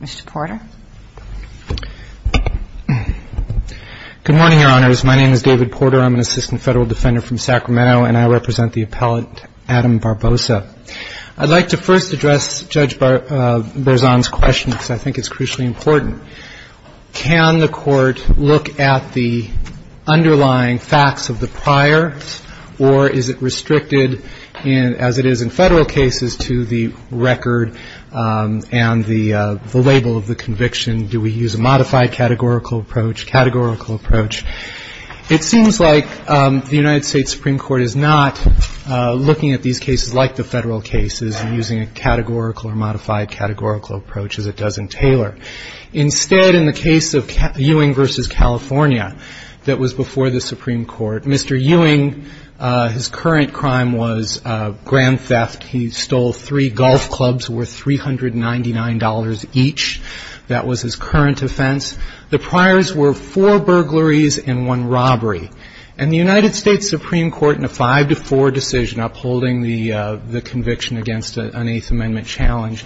Mr. Porter. Good morning, Your Honors. My name is David Porter. I'm an assistant federal defender from Sacramento, and I represent the appellate Adam Barboza. I'd like to first address Judge Barzon's question, because I think it's crucially important. Can the Court look at the underlying facts of the prior, or is it restricted, as it is in federal cases, to the record and the label of the conviction? Do we use a modified categorical approach, categorical approach? It seems like the United States Supreme Court is not looking at these cases like the federal cases and using a categorical or modified categorical approach, as it does in Taylor. Instead, in the case of Ewing v. California, that was before the Supreme Court, Mr. Ewing, his current crime was grand theft. He stole three golf clubs worth $399 each. That was his current offense. The priors were four burglaries and one robbery. And the United States Supreme Court, in a 5-4 decision upholding the conviction against an Eighth Amendment challenge,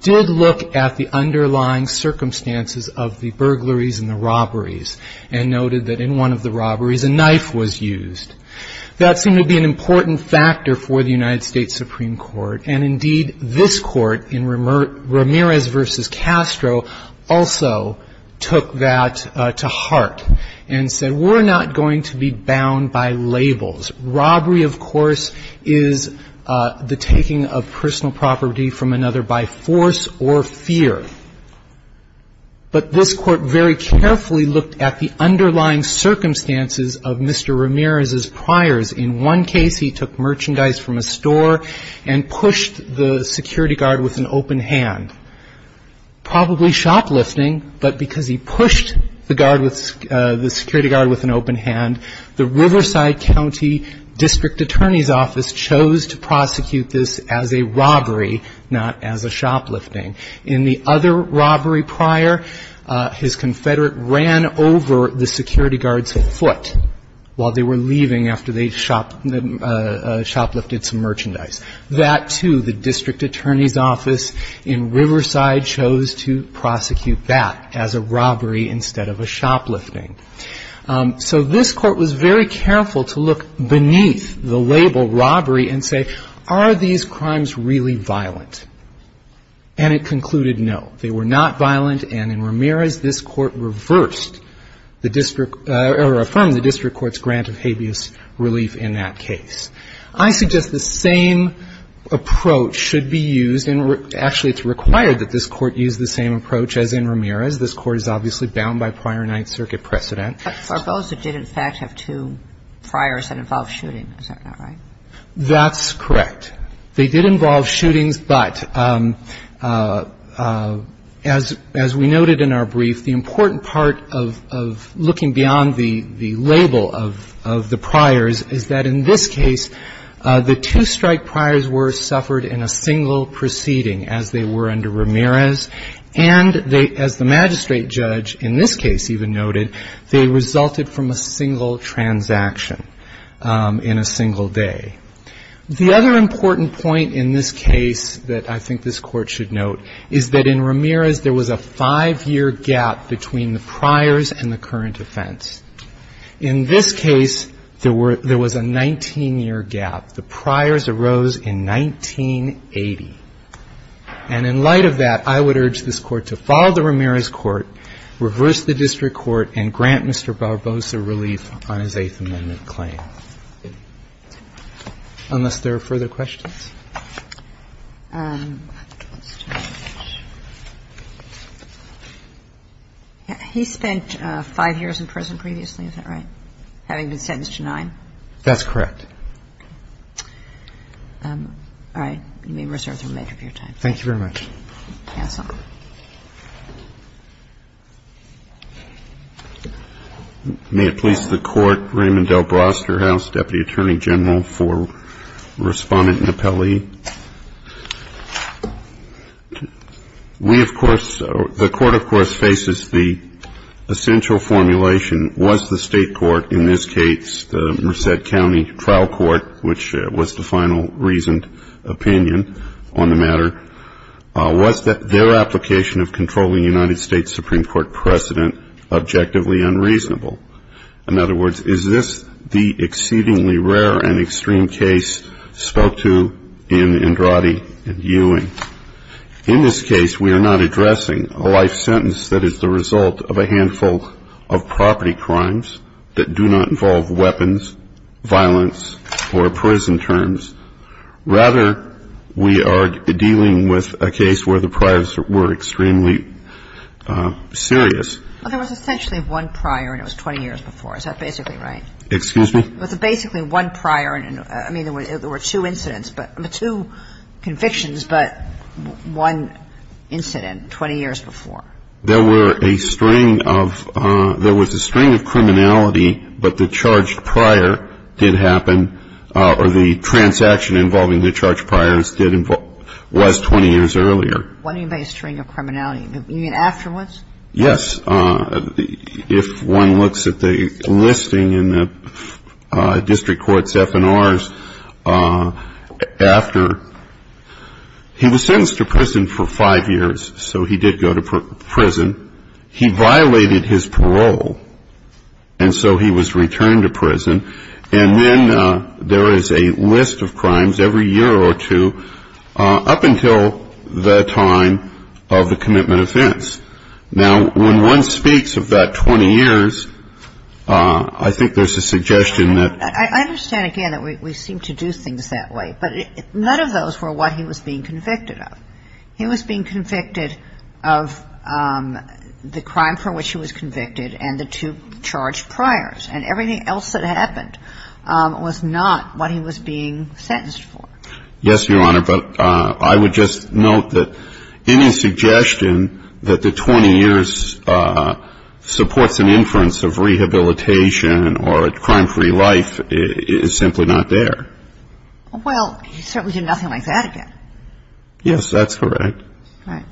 did look at the underlying circumstances of the burglaries and the robberies and noted that in one of the robberies a knife was used. That seemed to be an important factor for the United States Supreme Court. And, indeed, this Court, in Ramirez v. Castro, also took that to heart and said, we're not going to be bound by labels. Robbery, of course, is the taking of personal property from another by force or fear. But this Court very carefully looked at the underlying circumstances of Mr. Ramirez's priors. In one case, he took merchandise from a store and pushed the security guard with an open hand. Probably shoplifting, but because he pushed the guard with the security guard with an open hand, the Riverside County District Attorney's Office chose to prosecute this as a robbery, not as a shoplifting. In the other robbery prior, his confederate ran over the security guard's foot while they were leaving after they shoplifted some merchandise. That, too, the District Attorney's Office in Riverside chose to prosecute that as a robbery instead of a shoplifting. So this Court was very careful to look beneath the label robbery and say, are these crimes really violent? And it concluded, no, they were not violent. And in Ramirez, this Court reversed the district or affirmed the district court's grant of habeas relief in that case. I suggest the same approach should be used. Actually, it's required that this Court use the same approach as in Ramirez. This Court is obviously bound by prior Ninth Circuit precedent. But for those that did, in fact, have two priors that involved shooting, is that not right? That's correct. They did involve shootings, but as we noted in our brief, the important part of looking beyond the label of the priors is that in this case, the two strike priors were suffered in a single proceeding as they were under Ramirez. And as the magistrate judge in this case even noted, they resulted from a single transaction in a single day. The other important point in this case that I think this Court should note is that in Ramirez, there was a five-year gap between the priors and the current offense. In this case, there were – there was a 19-year gap. The priors arose in 1980. And in light of that, I would urge this Court to follow the Ramirez court, reverse the district court, and grant Mr. Barbosa relief on his Eighth Amendment claim. Thank you. Thank you. Thank you. Unless there are further questions? Let's try this. He spent five years in prison previously. Is that right? Having been sentenced to nine? That's correct. Okay. All right. You may reserve the remainder of your time. Thank you very much. Cancel. Thank you. May it please the Court, Raymond L. Brosterhouse, Deputy Attorney General for Respondent and Appellee. We, of course, the court, of course, faces the essential formulation was the state court, in this case, the Merced County Trial Court, which was the final reasoned opinion on the matter, was their application of controlling the United States Supreme Court precedent objectively unreasonable. In other words, is this the exceedingly rare and extreme case spoke to in Andrade and Ewing? In this case, we are not addressing a life sentence that is the result of a handful of property crimes that do not involve weapons, violence, or prison terms. Rather, we are dealing with a case where the priors were extremely serious. Well, there was essentially one prior, and it was 20 years before. Is that basically right? Excuse me? It was basically one prior. I mean, there were two incidents, two convictions, but one incident 20 years before. There were a string of – there was a string of criminality, but the charged prior did happen or the transaction involving the charged priors was 20 years earlier. What do you mean by a string of criminality? You mean afterwards? Yes. If one looks at the listing in the district court's F&Rs, after he was sentenced to prison for five years, so he did go to prison. He violated his parole, and so he was returned to prison. And then there is a list of crimes every year or two up until the time of the commitment offense. Now, when one speaks of that 20 years, I think there's a suggestion that – I understand, again, that we seem to do things that way, but none of those were what he was being convicted of. He was being convicted of the crime for which he was convicted and the two charged priors, and everything else that happened was not what he was being sentenced for. Yes, Your Honor. But I would just note that any suggestion that the 20 years supports an inference of rehabilitation or a crime-free life is simply not there. Well, he certainly did nothing like that again. Yes, that's correct. Right.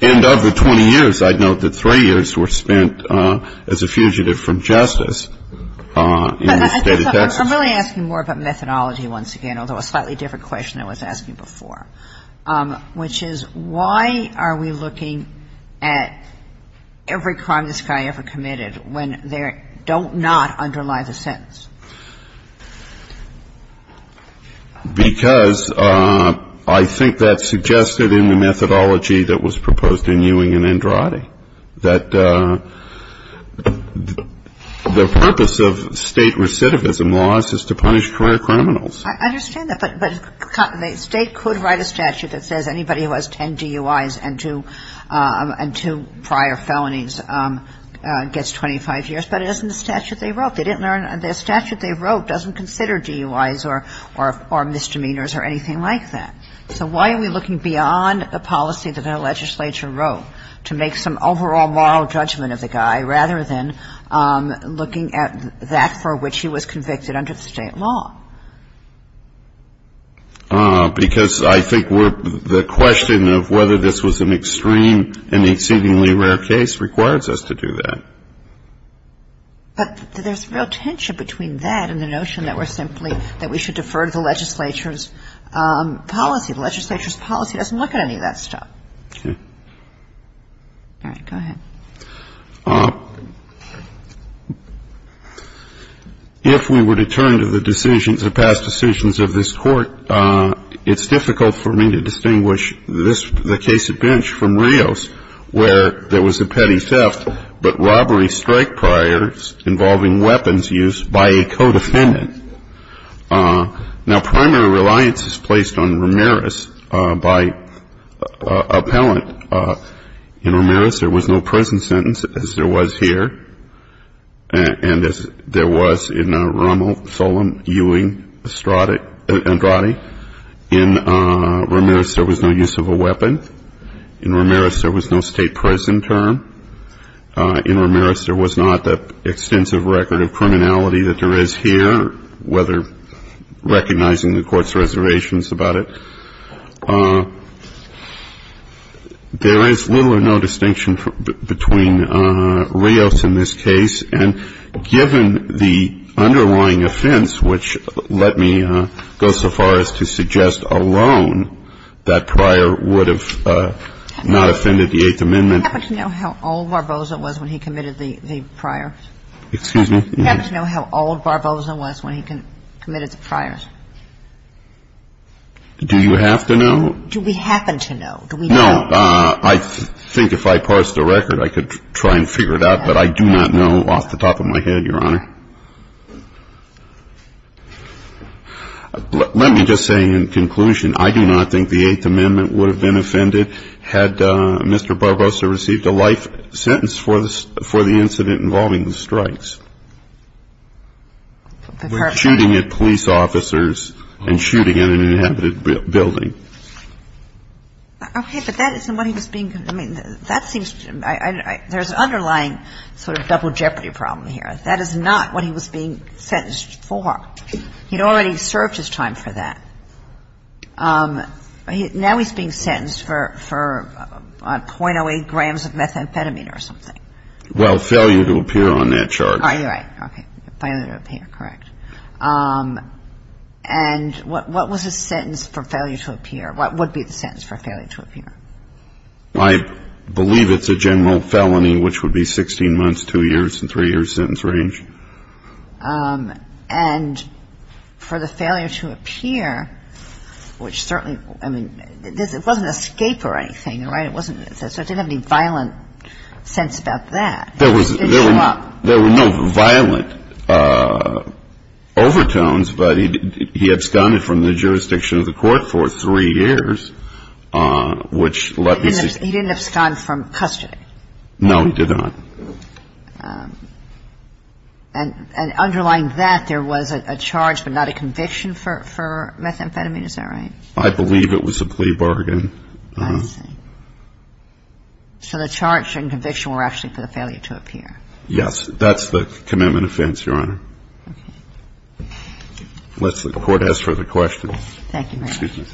And of the 20 years, I'd note that three years were spent as a fugitive from justice in the State of Texas. I'm really asking more about methodology once again, although a slightly different question than I was asking before, which is why are we looking at every crime this guy ever committed when there do not underlie the sentence? Because I think that suggested in the methodology that was proposed in Ewing and Andrade that the purpose of State recidivism laws is to punish prior criminals. I understand that, but the State could write a statute that says anybody who has 10 DUIs and two prior felonies gets 25 years, but it isn't the statute they wrote. They didn't learn the statute they wrote doesn't consider DUIs or misdemeanors or anything like that. So why are we looking beyond the policy that our legislature wrote to make some overall moral judgment of the guy rather than looking at that for which he was convicted under the State law? Because I think the question of whether this was an extreme and exceedingly rare case requires us to do that. But there's real tension between that and the notion that we're simply, that we should defer to the legislature's policy. The legislature's policy doesn't look at any of that stuff. Okay. All right. Go ahead. If we were to turn to the decisions, the past decisions of this Court, it's difficult for me to distinguish this, the case at Bench from Rios where there was a petty theft, but robbery strike priors involving weapons use by a co-defendant. Now, primary reliance is placed on Ramirez by appellant. In Ramirez, there was no prison sentence, as there was here, and as there was in Romo, Solem, Ewing, Estrada, Andrade. In Ramirez, there was no use of a weapon. In Ramirez, there was no state prison term. In Ramirez, there was not the extensive record of criminality that there is here, whether recognizing the Court's reservations about it. There is little or no distinction between Rios in this case. And given the underlying offense, which let me go so far as to suggest alone that Pryor would have not offended the Eighth Amendment. Do you happen to know how old Barboza was when he committed the priors? Excuse me? Do you happen to know how old Barboza was when he committed the priors? Do you have to know? Do we happen to know? Do we know? I think if I parsed the record, I could try and figure it out, but I do not know off the top of my head, Your Honor. Let me just say in conclusion, I do not think the Eighth Amendment would have been offended had Mr. Barboza received a life sentence for the incident involving the strikes. Shooting at police officers and shooting at an inhabited building. Okay. But that isn't what he was being – I mean, that seems – there's an underlying sort of double jeopardy problem here. That is not what he was being sentenced for. He had already served his time for that. Now he's being sentenced for .08 grams of methamphetamine or something. Well, failure to appear on that charge. Oh, you're right. Okay. Failure to appear. Correct. And what was his sentence for failure to appear? What would be the sentence for failure to appear? I believe it's a general felony, which would be 16 months, 2 years, and 3 years sentence range. And for the failure to appear, which certainly – I mean, it wasn't an escape or anything, right? It wasn't – so it didn't have any violent sense about that. It didn't show up. There were no violent overtones, but he absconded from the jurisdiction of the court for 3 years, which let me see – He didn't abscond from custody. No, he did not. And underlying that, there was a charge but not a conviction for methamphetamine. Is that right? I believe it was a plea bargain. I see. So the charge and conviction were actually for the failure to appear. Yes. That's the commitment offense, Your Honor. Okay. Unless the court has further questions. Thank you, Your Honor. Excuse me.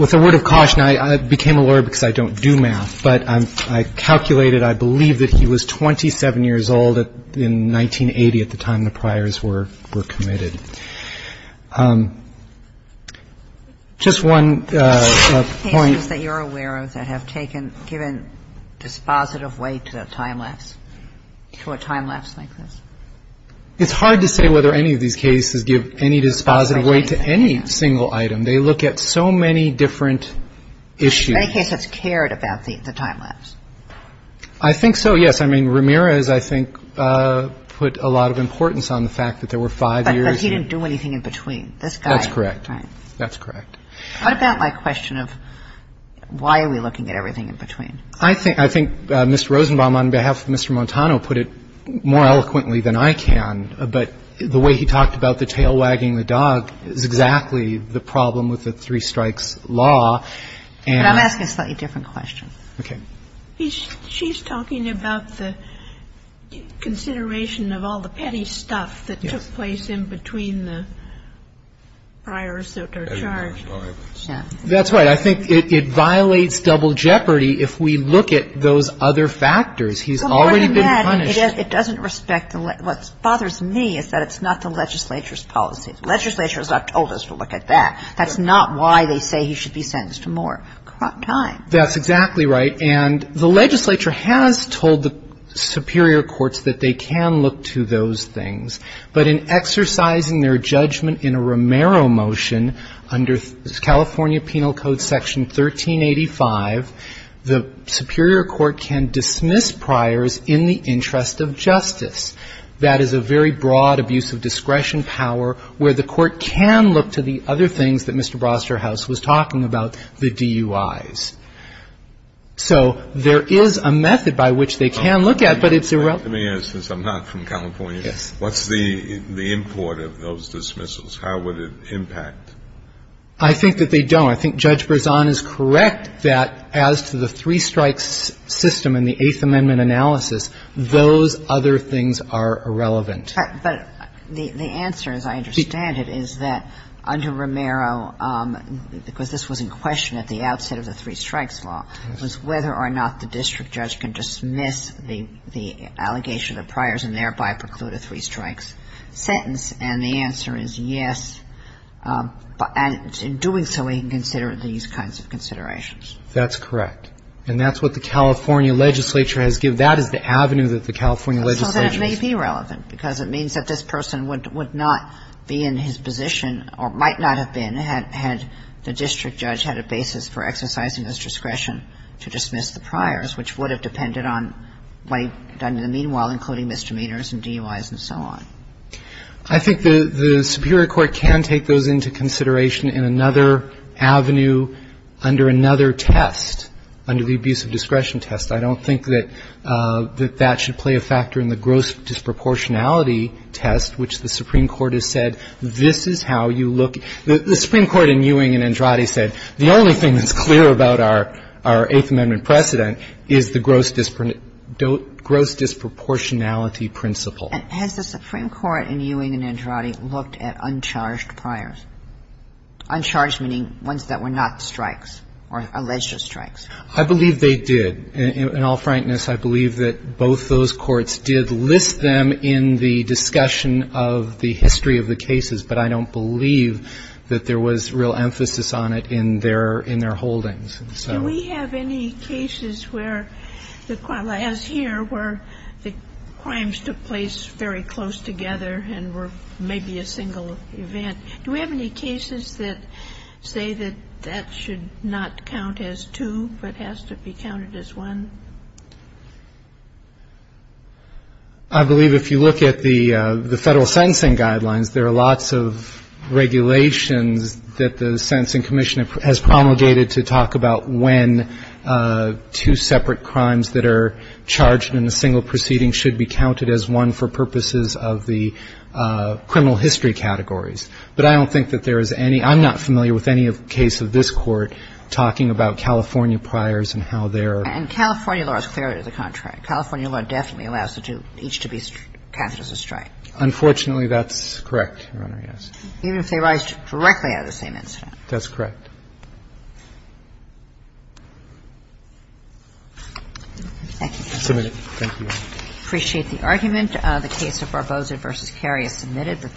With a word of caution, I became a lawyer because I don't do math, but I calculated I believe that he was 27 years old in 1980 at the time the priors were committed. Just one point. Are there any cases that you're aware of that have taken – given dispositive weight to the time lapse, to a time lapse like this? It's hard to say whether any of these cases give any dispositive weight to any single item. They look at so many different issues. In any case, it's cared about, the time lapse. I think so, yes. I mean, Ramirez, I think, put a lot of importance on the fact that there were 5 years. But he didn't do anything in between. This guy. That's correct. That's correct. What about my question of why are we looking at everything in between? I think Mr. Rosenbaum, on behalf of Mr. Montano, put it more eloquently than I can. But the way he talked about the tail wagging the dog is exactly the problem with the three strikes law. But I'm asking a slightly different question. Okay. She's talking about the consideration of all the petty stuff that took place in between the priors that are charged. That's right. I think it violates double jeopardy if we look at those other factors. He's already been punished. Well, more than that, it doesn't respect the – what bothers me is that it's not the legislature's policy. The legislature has not told us to look at that. That's not why they say he should be sentenced to more time. That's exactly right. And the legislature has told the superior courts that they can look to those things. But in exercising their judgment in a Romero motion under California Penal Code Section 1385, the superior court can dismiss priors in the interest of justice. That is a very broad abuse of discretion power where the court can look to the other things that Mr. Brosterhouse was talking about, the DUIs. So there is a method by which they can look at, but it's irrelevant. Let me ask this. I'm not from California. Yes. What's the import of those dismissals? How would it impact? I think that they don't. I think Judge Berzon is correct that as to the three strikes system in the Eighth Amendment analysis, those other things are irrelevant. But the answer, as I understand it, is that under Romero, because this was in question at the outset of the three strikes law, was whether or not the district judge can dismiss the allegation of priors and thereby preclude a three strikes sentence. And the answer is yes. And in doing so, we can consider these kinds of considerations. That's correct. And that's what the California legislature has given. That is the avenue that the California legislature has given. Because it means that this person would not be in his position or might not have been had the district judge had a basis for exercising his discretion to dismiss the priors, which would have depended on what he had done in the meanwhile, including misdemeanors and DUIs and so on. I think the superior court can take those into consideration in another avenue under another test, under the abuse of discretion test. I don't think that that should play a factor in the gross disproportionality test, which the Supreme Court has said this is how you look. The Supreme Court in Ewing and Andrade said the only thing that's clear about our Eighth Amendment precedent is the gross disproportionality principle. Has the Supreme Court in Ewing and Andrade looked at uncharged priors? Uncharged meaning ones that were not strikes or alleged strikes. I believe they did. In all frankness, I believe that both those courts did list them in the discussion of the history of the cases. But I don't believe that there was real emphasis on it in their holdings. And so we have any cases where the crimes took place very close together and were maybe a single event. Do we have any cases that say that that should not count as two but has to be counted as one? I believe if you look at the Federal Sentencing Guidelines, there are lots of regulations that the Sentencing Commission has promulgated to talk about when two separate crimes that are charged in a single proceeding should be counted as one for purposes of the criminal history categories. But I don't think that there is any – I'm not familiar with any case of this Court talking about California priors and how they're – And California law is clearly the contrary. California law definitely allows each to be counted as a strike. Unfortunately, that's correct, Your Honor, yes. Even if they arise directly out of the same incident. That's correct. Thank you. Thank you. Appreciate the argument. The case of Barbosa v. Carey is submitted.